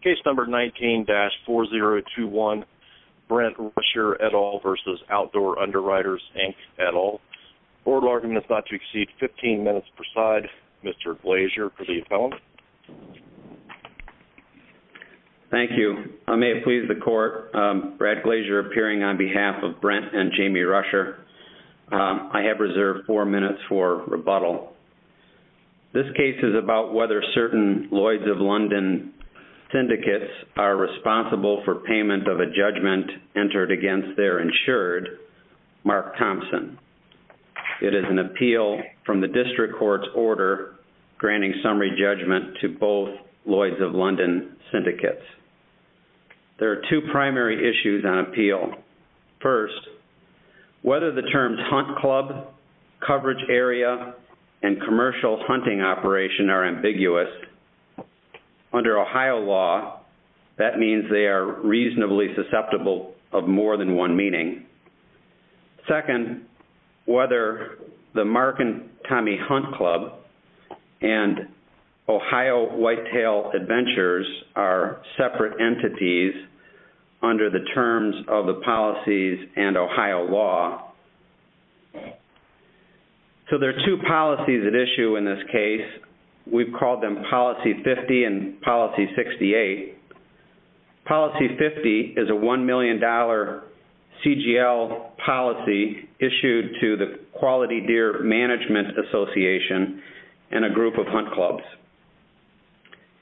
Case number 19-4021, Brent Rusher, et al. v. Outdoor Underwriters Inc, et al. Board argument is not to exceed 15 minutes per side. Mr. Glazier, for the appellant. Thank you. I may have pleased the court. Brad Glazier appearing on behalf of Brent and Jamie Rusher. I have reserved four minutes for rebuttal. This case is about whether certain Lloyds of London syndicates are responsible for payment of a judgment entered against their insured, Mark Thompson. It is an appeal from the district court's order granting summary judgment to both Lloyds of London syndicates. There are two primary issues on appeal. First, whether the terms hunt club, coverage area, and commercial hunting operation are ambiguous. Under Ohio law, that means they are reasonably susceptible of more than one meaning. Second, whether the Mark and Tommy Hunt Club and Ohio Whitetail Adventures are separate entities under the terms of the policies and Ohio law. So there are two policies at issue in this case. We've called them Policy 50 and Policy 68. Policy 50 is a $1 million CGL policy issued to the Quality Deer Management Association and a group of hunt clubs.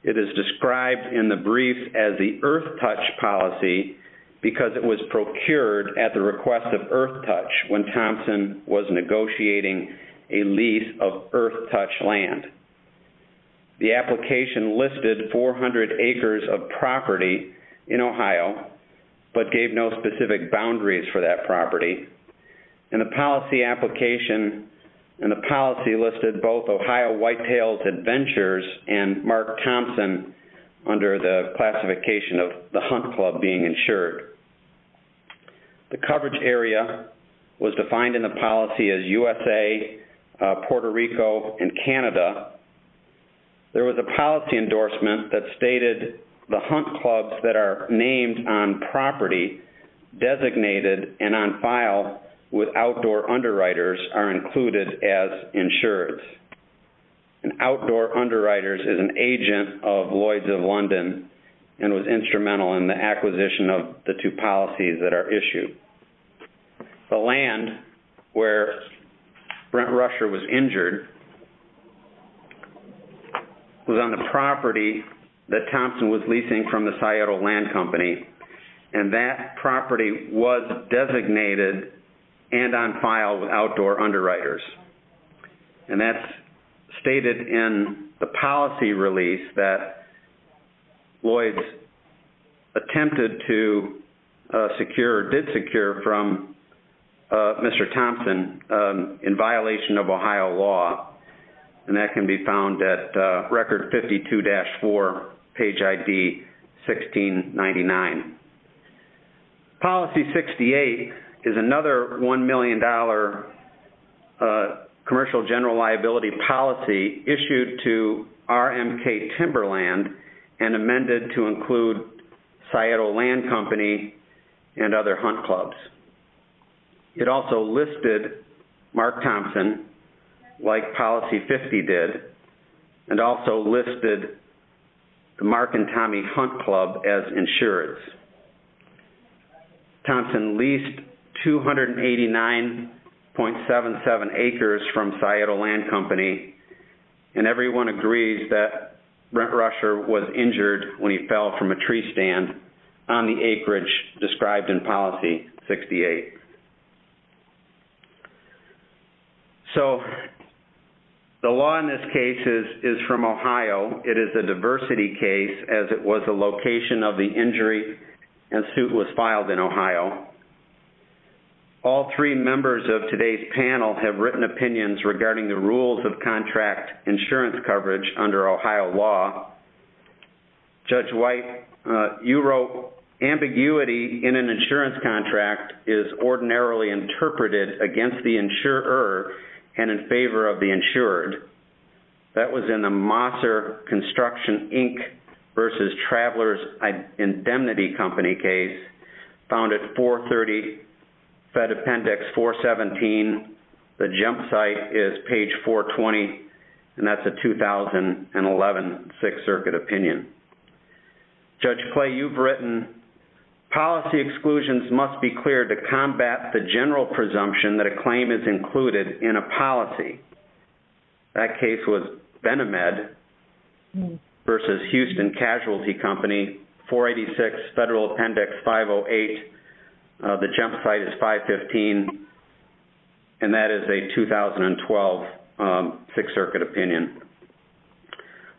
It is described in the brief as the earth touch policy because it was procured at the request of earth touch when Thompson was negotiating a lease of earth touch land. The application listed 400 acres of property in Ohio but gave no specific boundaries for that property. And the policy application and the policy listed both Ohio Whitetails Adventures and Mark Thompson under the classification of the hunt club being insured. The coverage area was defined in the policy as USA, Puerto Rico, and Canada. There was a policy endorsement that stated the hunt clubs that are named on property, designated, and on file with outdoor underwriters are included as insured. And outdoor underwriters is an agent of Lloyds of London and was instrumental in the acquisition of the two policies that are issued. The land where Brent Rusher was injured was on the property that Thompson was leasing from the Sayoto Land Company. And that property was designated and on file with outdoor underwriters. And that's stated in the policy release that Lloyds attempted to secure or did secure from Mr. Thompson in violation of Ohio law. And that can be found at record 52-4 page ID 1699. Policy 68 is another $1 million commercial general liability policy issued to RMK Timberland and amended to include Sayoto Land Company and other hunt clubs. It also listed Mark Thompson like policy 50 did and also listed the Mark and Tommy Hunt Club as insured. Thompson leased 289.77 acres from Sayoto Land Company and everyone agrees that Brent Rusher was injured when he fell from a tree stand on the acreage described in policy 68. So the law in this case is from Ohio. It is a diversity case as it was the location of the injury and suit was filed in Ohio. All three members of today's panel have written in. Judge White, you wrote ambiguity in an insurance contract is ordinarily interpreted against the insurer and in favor of the insured. That was in the Mosser Construction, Inc. versus Travelers Indemnity Company case found at 430 Fed Appendix 417. The jump site is page 420 and that's a 2011 Sixth Circuit opinion. Judge Clay, you've written policy exclusions must be cleared to combat the general presumption that a claim is included in a policy. That case was Benamed versus Houston Casualty Company, 486 Federal Appendix 508. The jump site is 515 and that is a 2012 Sixth Circuit opinion.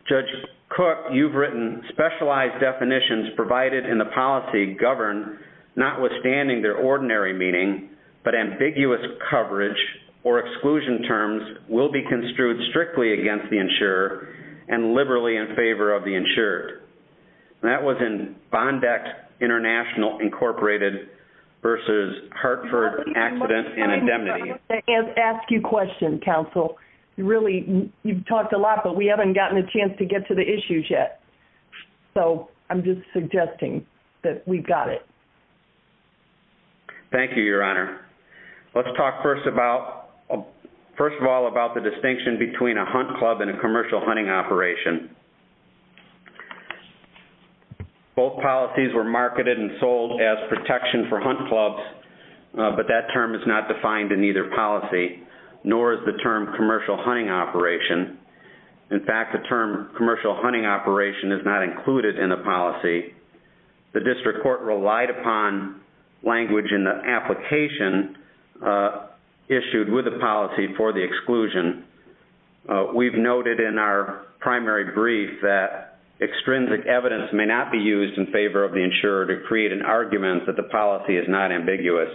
Judge Cook, you've written specialized definitions provided in the policy govern notwithstanding their ordinary meaning but ambiguous coverage or exclusion terms will be construed strictly against the insurer and liberally in favor of the insured. That was in Bond Act International, Inc. versus Hartford Accident and Indemnity. I'm going to ask you a question, counsel. You've talked a lot but we haven't gotten a chance to get to the issues yet. I'm just suggesting that we've got it. Thank you, Your Honor. Let's talk first of all about the distinction between a hunt club and a commercial hunting operation. Both policies were marketed and sold as protection for hunt clubs but that term is not defined in either policy nor is the term commercial hunting operation. In fact, the term commercial hunting operation is not included in the policy. The district court relied upon language in the application issued with the policy for the exclusion. We've noted in our primary brief that extrinsic evidence may not be used in favor of the insurer to create an argument that the policy is not ambiguous.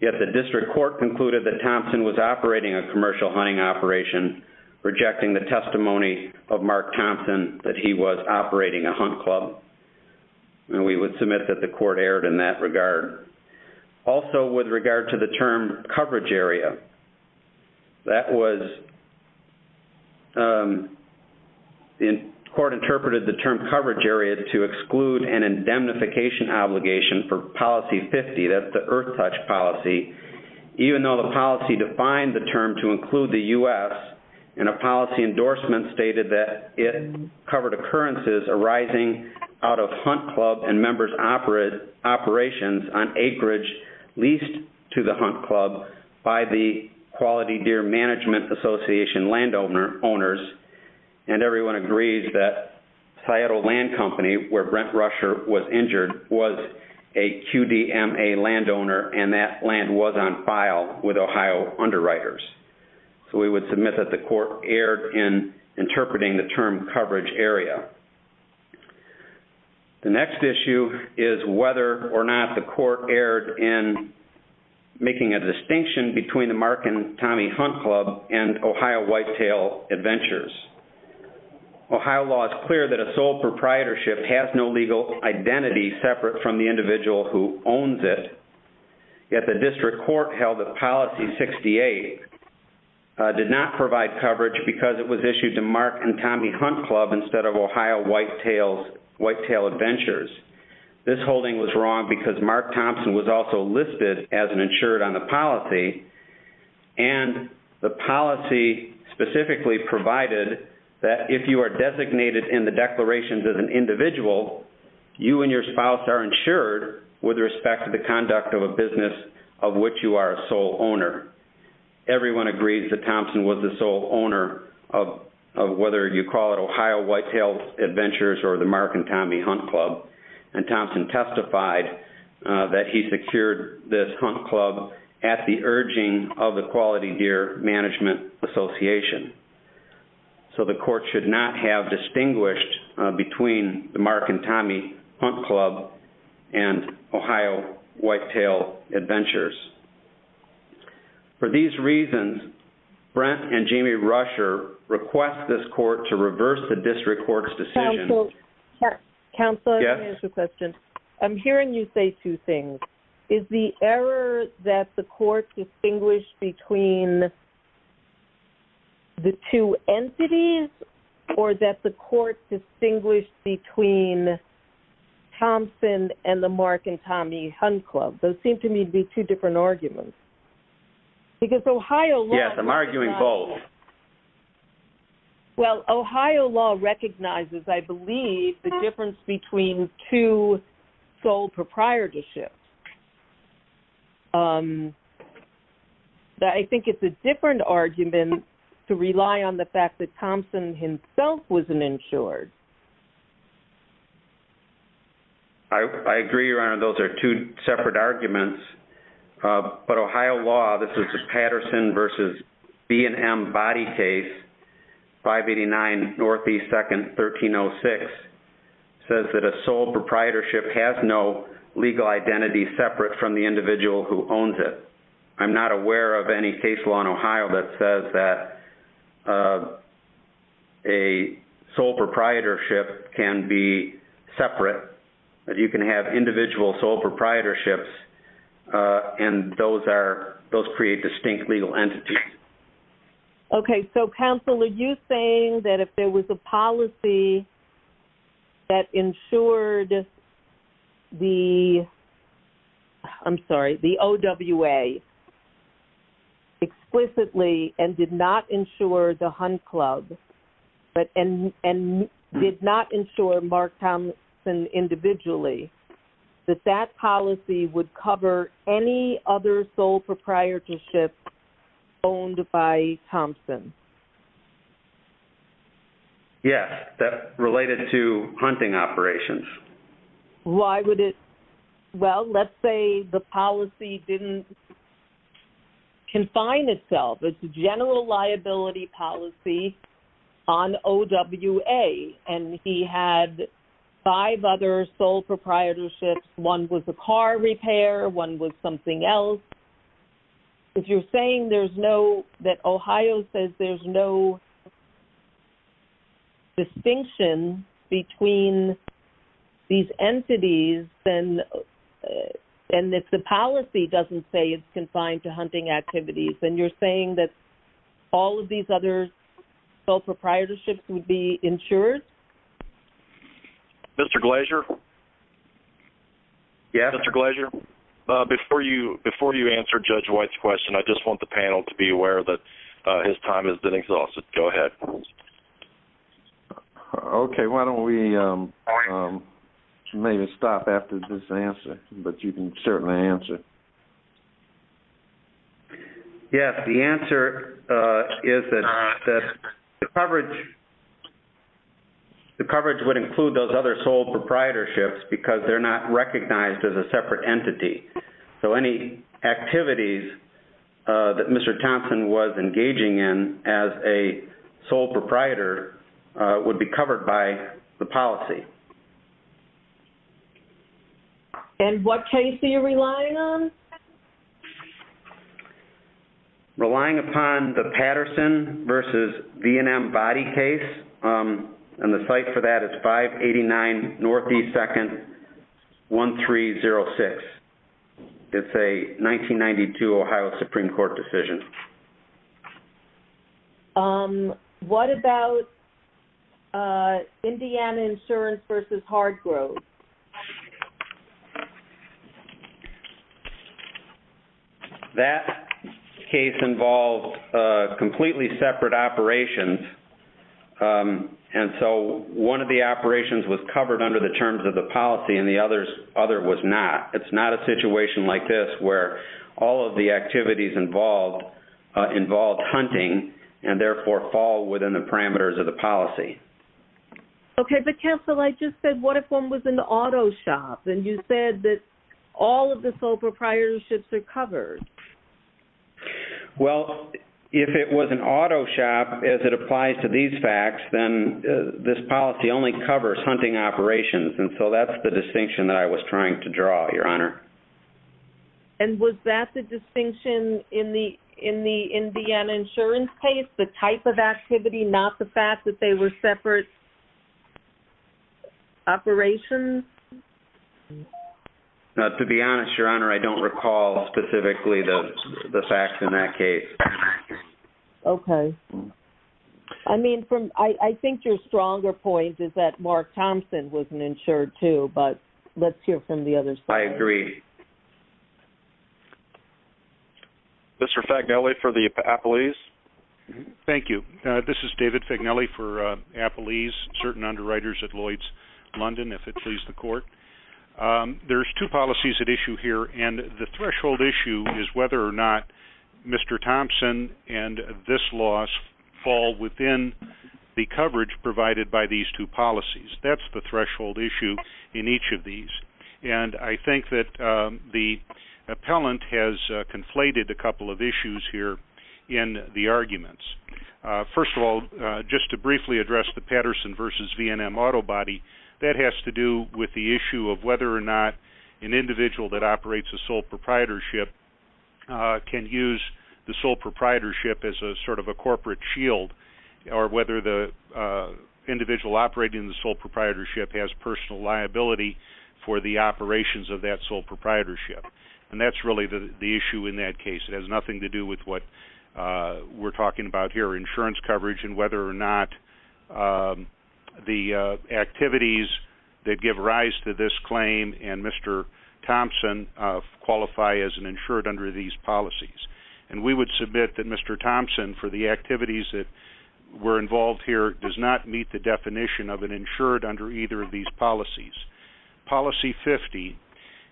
Yet the district court concluded that Thompson was operating a commercial hunting operation rejecting the testimony of Mark Thompson that he was operating a hunt club. We would submit that the court erred in that regard. Also, with regard to the term coverage area, the court interpreted the term coverage area to exclude an indemnification obligation for policy 50. That's the Earth Touch policy. Even though the policy defined the term to include the U.S. in a policy endorsement stated that it covered occurrences arising out of hunt club and members' operations on acreage leased to the hunt club by the Quality Deer Management Association landowners and everyone agrees that Seattle Land Company, where Brent Rusher was injured, was a QDMA landowner and that land was on file with Ohio underwriters. So we would submit that the court erred in interpreting the term coverage area. The next issue is whether or not the court erred in making a distinction between the Mark and Tommy Hunt Club and Ohio Whitetail Adventures. Ohio law is clear that a sole proprietorship has no legal identity separate from the individual who owns it. Yet the district court held that policy 68 did not provide coverage because it was issued to Mark and Ohio Whitetail Adventures. This holding was wrong because Mark Thompson was also listed as an insured on the policy and the policy specifically provided that if you are designated in the declarations as an individual, you and your spouse are insured with respect to the conduct of a business of which you are a sole owner. Everyone agrees that Thompson was the sole owner of whether you call it Ohio Whitetail Adventures or the Mark and Tommy Hunt Club and Thompson testified that he secured this hunt club at the urging of the Quality Deer Management Association. So the court should not have distinguished between the Mark and Tommy Hunt Club and Ohio Whitetail Adventures. For these reasons, Brent Rusher and Jamie Rusher request this court to reverse the district court's decision. Counselor, I have a question. I'm hearing you say two things. Is the error that the court distinguished between the two entities or that the court distinguished between Thompson and the Mark and Tommy Hunt Club? Those seem to me to be two different arguments. Because they're both sole. Well, Ohio law recognizes, I believe, the difference between two sole proprietorships. I think it's a different argument to rely on the fact that Thompson himself was an insured. I agree, Your Honor. Those are two separate arguments. But Ohio law, this is the Patterson v. B&M body case, 589 N.E. 2nd, 1306, says that a sole proprietorship has no legal identity separate from the individual who owns it. I'm not aware of any case law in Ohio that says that a sole proprietorship can be separate, that you can have individual sole proprietorships, and those create distinct legal entities. Okay. So, counsel, are you saying that if there was a policy that insured the OWA explicitly and did not insure the Hunt Club and did not insure Mark Thompson individually, that that policy would cover any other sole proprietorship owned by Thompson? Yes. That related to hunting operations. Why would it? Well, let's say the policy didn't confine itself. It's a general liability policy on OWA, and he had five other sole proprietorships. One was a car repair. One was something else. If you're saying there's no, that Ohio says there's no distinction between these entities, and if the policy doesn't say it's confined to hunting activities, then you're saying that all of these other sole proprietorships would be insured? Mr. Glazier? Yes? Mr. Glazier, before you answer Judge White's question, I just want the panel to be aware that his time has been exhausted. Go ahead. Okay. Why don't we maybe stop after this answer, but you can certainly answer. Yes. The answer is that the coverage would include those other sole proprietorships because they're not recognized as a separate entity. So any activities that Mr. Thompson was engaging in as a sole proprietor would be covered by the policy. Okay. And what case are you relying on? Relying upon the Patterson versus V&M body case, and the site for that is 589 Northeast 2nd, 1306. It's a 1992 Ohio Supreme Court decision. Okay. What about Indiana Insurance versus Hardgrove? That case involved completely separate operations, and so one of the operations was covered under the terms of the policy, and the other was not. It's not a situation like this where all of the activities involved involved hunting, and therefore fall within the parameters of the policy. Okay. But counsel, I just said what if one was an auto shop, and you said that all of the sole proprietorships are covered? Well, if it was an auto shop, as it applies to these facts, then this policy only covers hunting operations, and so that's the distinction that I was trying to draw, Your Honor. And was that the distinction in the Indiana Insurance case, the type of activity, not the fact that they were separate operations? To be honest, Your Honor, I don't recall specifically the facts in that case. Okay. I mean, I think your stronger point is that Mark Thompson wasn't insured, too, but let's hear from the other side. I agree. Mr. Fagnelli for the Appalese. Thank you. This is David Fagnelli for Appalese, certain underwriters at Lloyd's London, if it please the Court. There's two policies at issue here, and the threshold issue is whether or not Mr. Thompson and this loss fall within the coverage provided by these two policies. That's the threshold issue in each of these. And I think that the appellant has conflated a couple of issues here in the arguments. First of all, just to briefly address the Patterson v. V&M Auto Body, that has to do with the issue of whether or not an individual that operates a sole proprietorship can use the sole proprietorship as a sort of a corporate shield, or whether the individual operating the sole proprietorship has personal liability for the operations of that sole proprietorship. And that's really the issue in that case. It has nothing to do with what we're talking about here, insurance coverage, and whether or not the activities that give rise to this and we would submit that Mr. Thompson, for the activities that were involved here, does not meet the definition of an insured under either of these policies. Policy 50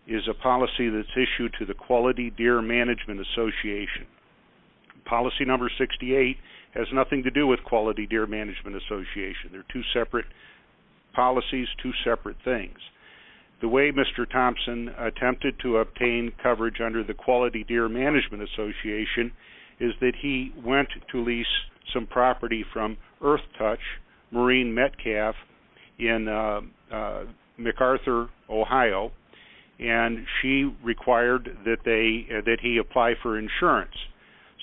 is a policy that's issued to the Quality Deer Management Association. Policy number 68 has nothing to do with Quality Deer Management Association. They're two separate policies, two separate things. The way Mr. Thompson attempted to obtain coverage under the Quality Deer Management Association is that he went to lease some property from Earth Touch Marine Metcalf in MacArthur, Ohio, and she required that he apply for insurance.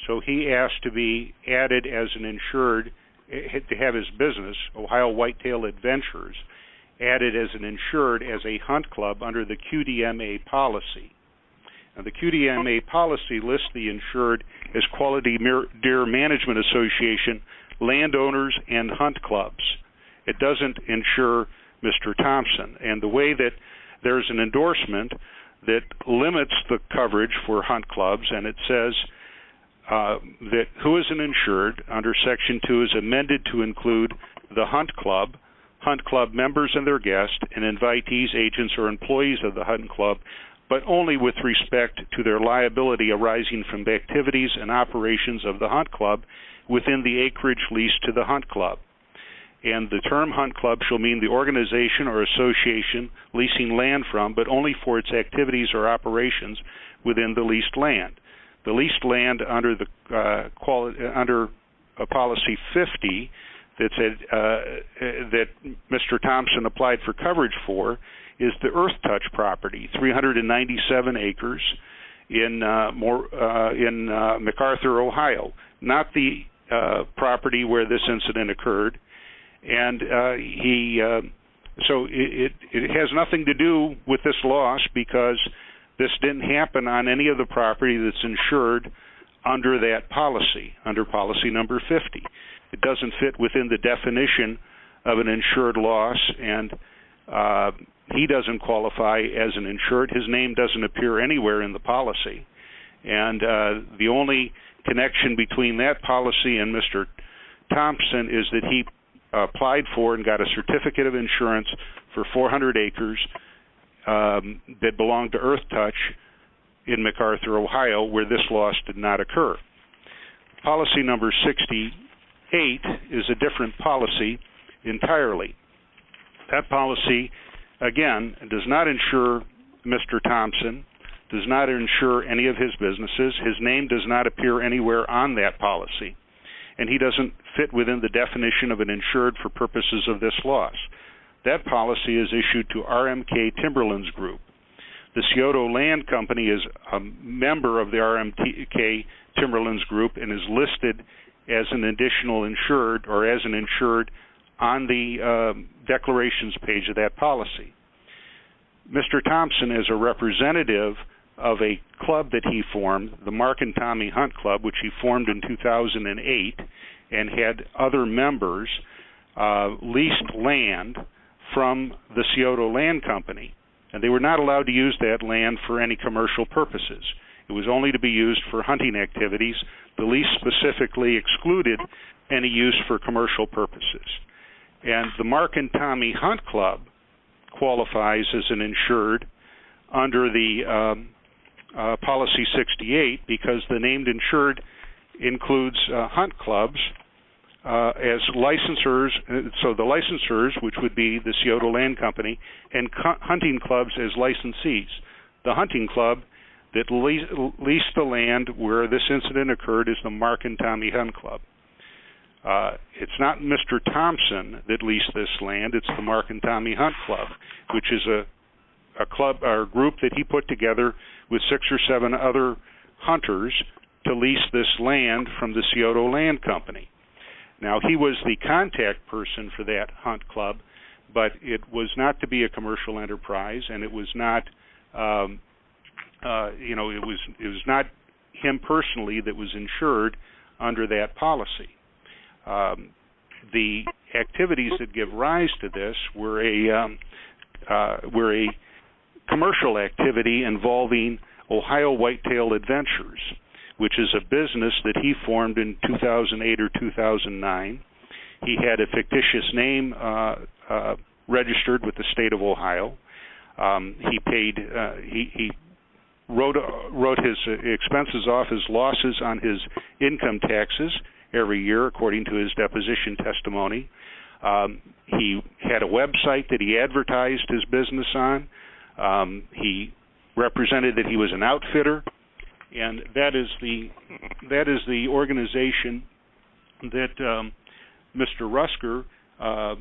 So he asked to be added as an insured, to be insured as a hunt club under the QDMA policy. The QDMA policy lists the insured as Quality Deer Management Association landowners and hunt clubs. It doesn't insure Mr. Thompson. And the way that there's an endorsement that limits the coverage for hunt clubs, and it says that who is an insured under Section 2 is amended to include the hunt club, hunt employees, agents, or employees of the hunt club, but only with respect to their liability arising from the activities and operations of the hunt club within the acreage leased to the hunt club. And the term hunt club shall mean the organization or association leasing land from, but only for its activities or operations within the leased land. The leased land under Policy 50 that Mr. Thompson applied for coverage for is the Earth Touch property, 397 acres in MacArthur, Ohio, not the property where this incident occurred. And so it has nothing to do with this loss because this didn't happen on any of the property that's insured under that policy, under Policy Number 50. It doesn't fit within the definition of an insured loss, and he doesn't qualify as an insured. His name doesn't appear anywhere in the policy. And the only connection between that policy and Mr. Thompson is that he applied for and got a certificate of insurance for 400 acres that belonged to Earth Touch in MacArthur, Ohio, where this loss did not occur. Policy Number 68 is a different policy entirely. That policy, again, does not insure Mr. Thompson, does not insure any of his businesses. His name does not appear anywhere on that policy. And he doesn't fit within the definition of an insured for purposes of this loss. That policy is issued to RMK Timberlands Group. The Seattle Land Company is a member of the Timberlands Group and is listed as an insured on the declarations page of that policy. Mr. Thompson is a representative of a club that he formed, the Mark and Tommy Hunt Club, which he formed in 2008 and had other members lease land from the Seattle Land Company. They were not allowed to use that land for any commercial purposes. It was only to be used for commercial activities. The lease specifically excluded any use for commercial purposes. And the Mark and Tommy Hunt Club qualifies as an insured under the Policy 68 because the named insured includes hunt clubs as licensors, so the licensors, which would be the Seattle Land Company, and hunting clubs as licensees. The hunting club that leased the land where this incident occurred is the Mark and Tommy Hunt Club. It's not Mr. Thompson that leased this land. It's the Mark and Tommy Hunt Club, which is a group that he put together with six or seven other hunters to lease this land from the Seattle Land Company. Now he was the contact person for that hunt club, but it was not to be a commercial enterprise and it was not him personally that was insured under that policy. The activities that give rise to this were a commercial activity involving Ohio Whitetail Adventures, which is a business that he formed in 2008 or 2009. He had a fictitious name registered with the state of Ohio. He wrote his expenses off as losses on his income taxes every year according to his deposition testimony. He had a website that he advertised his business on. He represented that he was an outfitter, and that is the organization that Mr. Rusker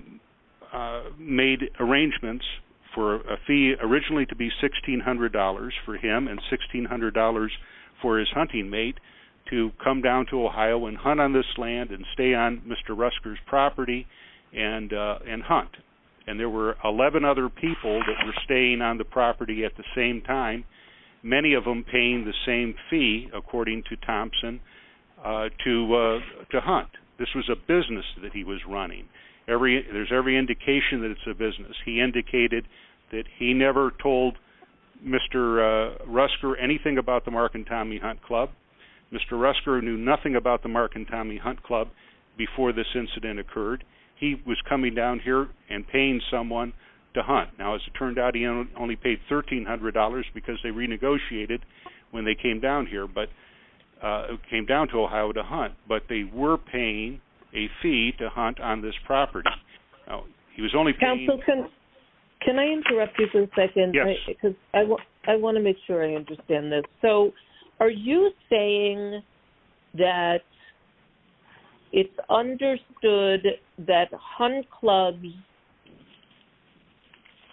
made arrangements for a fee originally to be $1,600 for him and $1,600 for his hunting mate to come down to Ohio and hunt on this land and stay on Mr. Rusker's property and hunt. There were 11 other people that were staying on the property at the same time, many of them paying the same fee, according to Thompson, to hunt. This was a business that he was running. There's every indication that it's a business. He indicated that he never told Mr. Rusker anything about the Mark and Tommy Hunt Club. Mr. Rusker knew nothing about the Mark and Tommy Hunt Club before this incident occurred. He was coming down here and paying someone to hunt. Now, as it turned out, he only paid $1,300 because they renegotiated when they came down to Ohio to pay. Can I interrupt you for a second? I want to make sure I understand this. Are you saying that it's understood that hunt clubs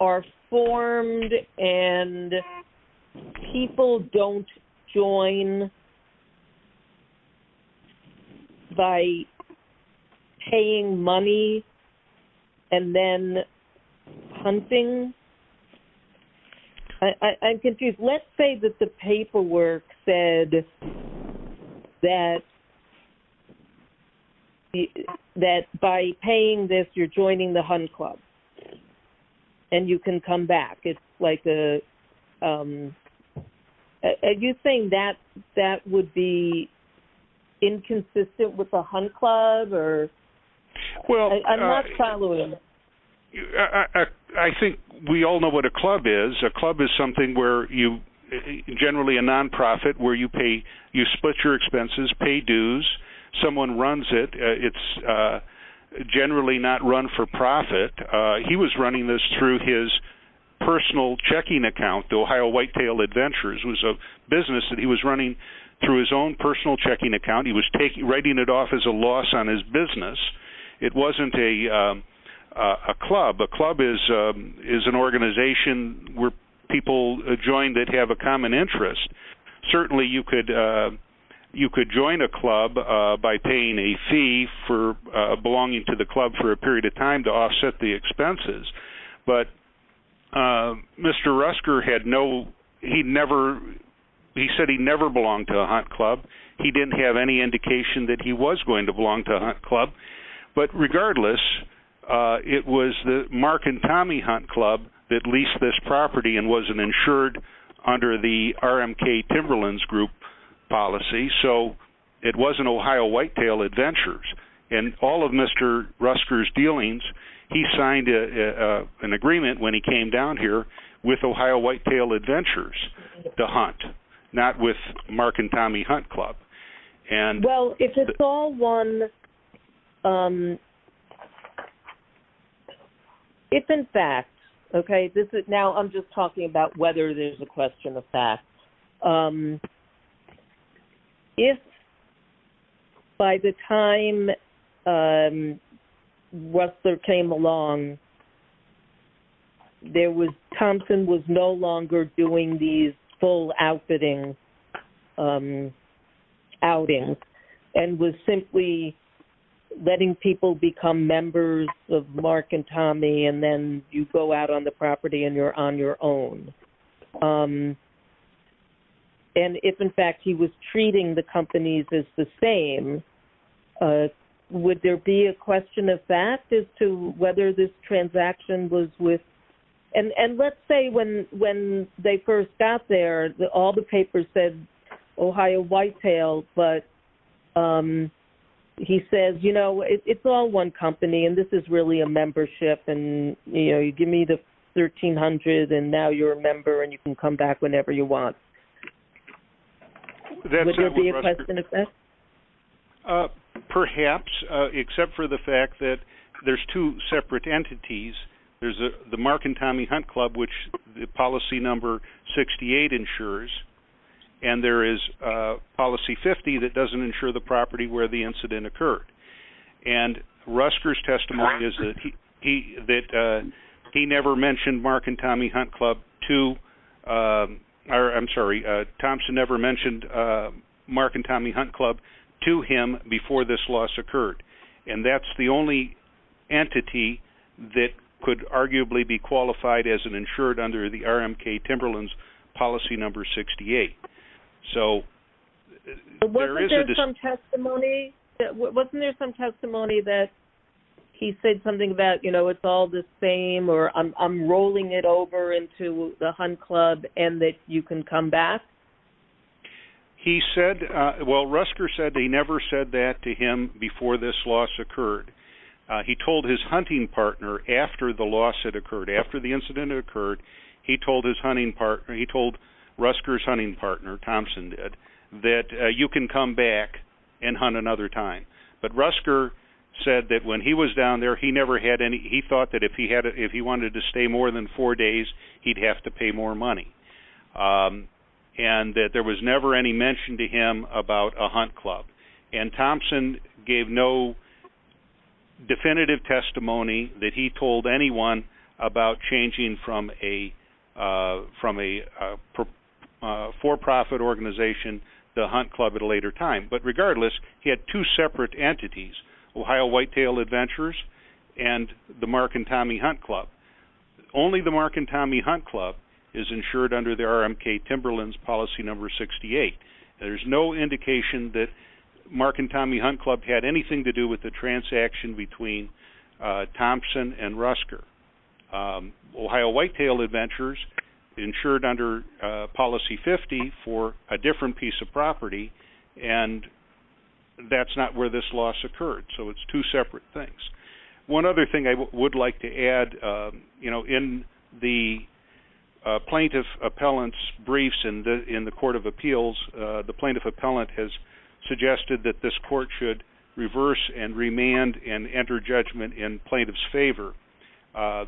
are formed and people don't join by paying money and then hunting? I'm confused. Let's say that the paperwork said that by paying this, you're joining the hunt club and you can come back. Are you saying that that would be inconsistent with a hunt club? I think we all know what a club is. A club is generally a non-profit where you split your expenses and pay dues. Someone runs it. It's generally not run for profit. He was running this through his personal checking account, the Ohio Whitetail Adventures. It was a business that he was running through his own personal checking account. He was writing it off as a loss on his business. It wasn't a club. A club is an organization where people join that have a common interest. Certainly, you could join a club by paying a fee for belonging to the club for a period of time to offset the expenses. Mr. Rusker said that he never belonged to a hunt club. He didn't have any indication that he was going to belong to a hunt club. Regardless, it was the Mark and Tommy Hunt Club that leased this property and wasn't insured under the RMK Timberlands Group policy. It wasn't Ohio Whitetail Adventures. In all of Mr. Rusker's dealings, he signed an agreement when he came down here with Ohio Whitetail Adventures to hunt, not with Mark and Tommy Hunt Club. If in fact, I'm just talking about whether there's a question of facts. If by the time Rusker came along, Thompson was no longer doing these full outfitting outings and was simply letting people become members of Mark and Tommy and then you go out on the property and you're on your own. If in fact, he was treating the companies as the same, would there be a question of fact as to whether this transaction was with... Let's say when they first got there, all the papers said Ohio Whitetail, but he says, it's all one company and this is really a membership. You give me the $1,300 and now you're a member and you can come back whenever you want. Would there be a question of fact? Perhaps, except for the fact that there's two separate entities. There's the Mark and Tommy Hunt Club, which the policy number 68 insures and there is policy 50 that doesn't insure the property where the incident occurred. Rusker's testimony is that he never mentioned Mark and Tommy Hunt Club to... I'm sorry, Thompson never mentioned Mark and Tommy Hunt Club to him before this loss occurred. That's the only entity that could arguably be qualified as an insured under the RMK Timberlands policy number 68. Wasn't there some testimony that he said something about, it's all the same or I'm rolling it over into the Hunt Club and that you can come back? He said, well, Rusker said he never said that to him before this loss occurred. He told his hunting partner after the loss had occurred, after the incident had occurred, he told his hunting partner, he told Rusker's hunting partner, Thompson did, that you can come back and hunt another time. But Rusker said that when he was down there, he never had any, he thought that if he wanted to stay more than four days, he'd have to pay more money. And that there was never any mention to him about a Hunt Club. And Thompson gave no definitive testimony that he told anyone about changing from a for-profit organization, the Hunt Club at a later time. But regardless, he had two separate entities, Ohio Whitetail Adventures and the Mark and Tommy Hunt Club. Only the Mark and Tommy Hunt Club is insured under the RMK Timberlands policy number 68. There's no indication that Mark and Tommy Hunt Club had anything to do with the transaction between Thompson and Rusker. Ohio Whitetail Adventures insured under policy 50 for a different piece of property and that's not where this loss occurred. So it's two separate things. One other thing I would like to add, you know, in the plaintiff appellant's briefs in the court of appeals, the plaintiff appellant has suggested that this court should reverse and remand and enter judgment in plaintiff's favor.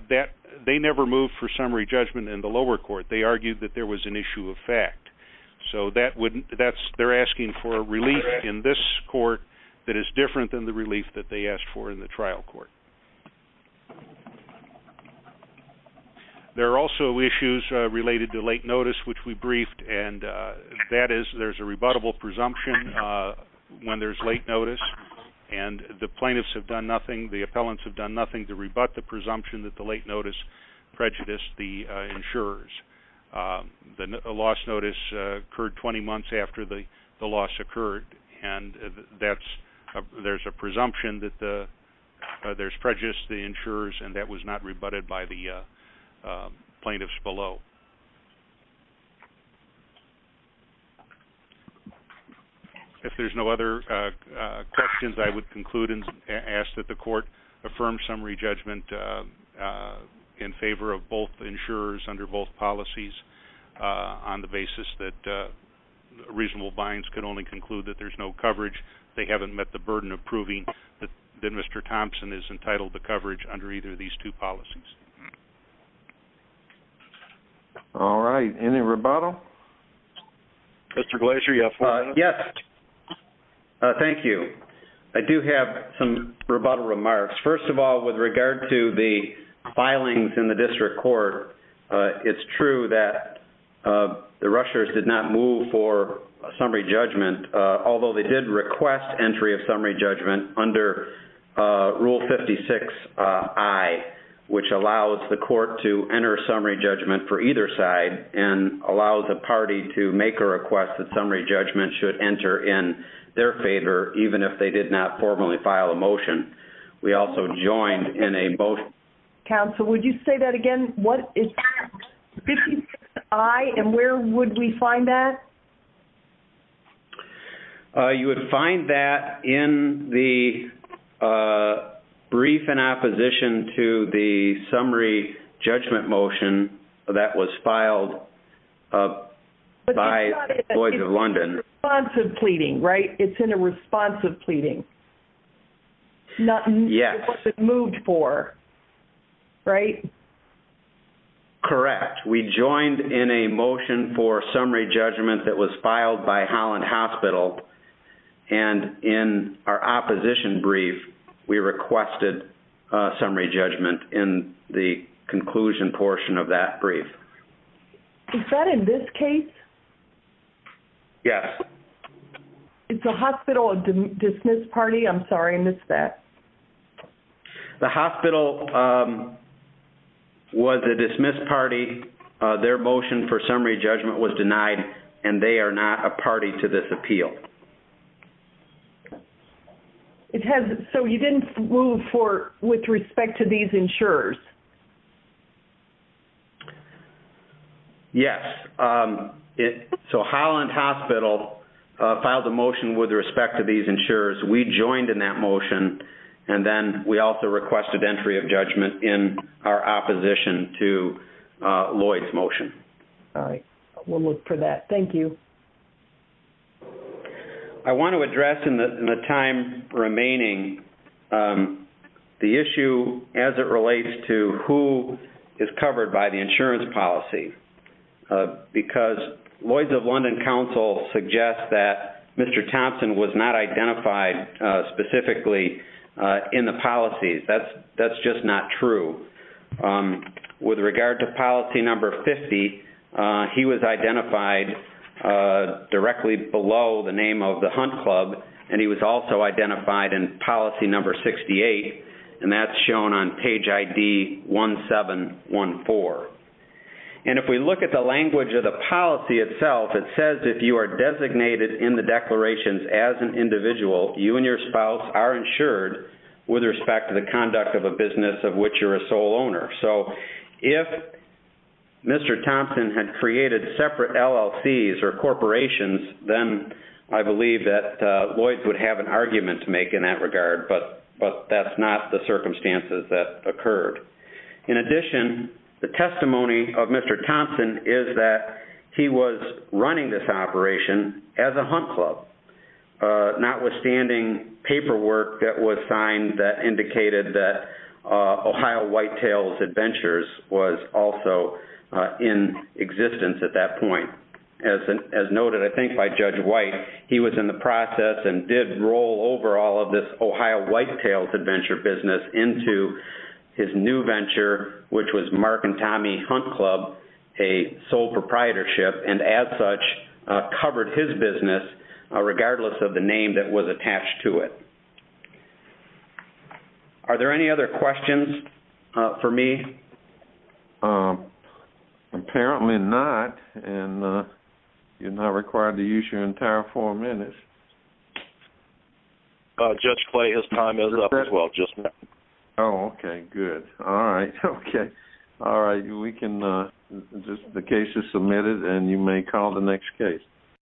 They never moved for summary judgment in the lower court. They argued that there was an issue of fact. So they're asking for a relief in this court that is different than the relief that they asked for in the trial court. There are also issues related to late notice which we briefed and that is there's a rebuttable presumption when there's late notice and the plaintiffs have done nothing, the appellants have done nothing to rebut the presumption that the late notice prejudiced the insurers. The loss notice occurred 20 months after the loss occurred and that's, there's a presumption that there's prejudice to the insurers and that was not rebutted by the plaintiffs below. If there's no other questions, I would conclude and ask that the court affirm summary judgment in favor of both insurers under both policies on the basis that reasonable binds can only conclude that there's no coverage. They haven't met the burden of proving that Mr. Thompson is entitled to coverage under either of these two policies. All right. Any rebuttal? Mr. Glazer, you have five minutes. Yes. Thank you. I do have some rebuttal remarks. First of all, with regard to the filings in the district court, it's true that the rushers did not move for summary judgment, although they did request entry of summary judgment under Rule 56-I, which allows the court to enter summary judgment for either side and allows a party to make a request that summary judgment should enter in their favor, even if they did not formally file a motion. We also joined in a motion. Counsel, would you say that again? What is Rule 56-I and where would we find that? You would find that in the brief in opposition to the summary judgment motion that was filed by Boys of London. It's in a response of pleading, right? It's in a response of pleading. Yes. It wasn't moved for, right? Correct. We joined in a motion for summary judgment that was filed by Holland Hospital and in our opposition brief, we requested summary judgment in the conclusion portion of that brief. Is that in this case? Yes. Is the hospital a dismissed party? I'm sorry, I missed that. The hospital was a dismissed party. Their motion for summary judgment was denied and they are not a party to this appeal. It has, so you didn't move for, with respect to these insurers? Yes. So Holland Hospital filed a motion with respect to these insurers. We joined in that motion and then we also requested entry of judgment in our opposition to Lloyd's motion. All right. We'll look for that. Thank you. I want to address in the time remaining the issue as it relates to who is covered by the insurance policy because Lloyd's of London Council suggests that Mr. Thompson was not identified specifically in the policies. That's just not true. With regard to policy number 50, he was identified directly below the name of the Hunt Club and he was also identified in policy number 68 and that's shown on page ID 1714. If we look at the language of the policy itself, it says if you are designated in the declarations as an individual, you and your spouse are insured with respect to the conduct of a business of which you're a sole owner. So if Mr. Thompson had created separate LLCs or corporations, then I believe that Lloyd's would have an argument to make in that regard, but that's not the circumstances that occurred. In addition, the testimony of Mr. Thompson is that he was running this operation as a Hunt Club, notwithstanding paperwork that was signed that indicated that Ohio Whitetails Adventures was also in existence at that point. As noted I think by Judge White, he was in the process and did roll over all of this Ohio Whitetails Adventure business into his new venture, which was Mark and Tommy Hunt Club, a sole proprietorship, and as such covered his business regardless of the name that was attached to it. Are there any other questions for me? Apparently not, and you're not required to use your entire four minutes. Judge Clay, his time is up as well, just now. Oh, okay, good. All right, okay. All right, the case is submitted and you may call the next case.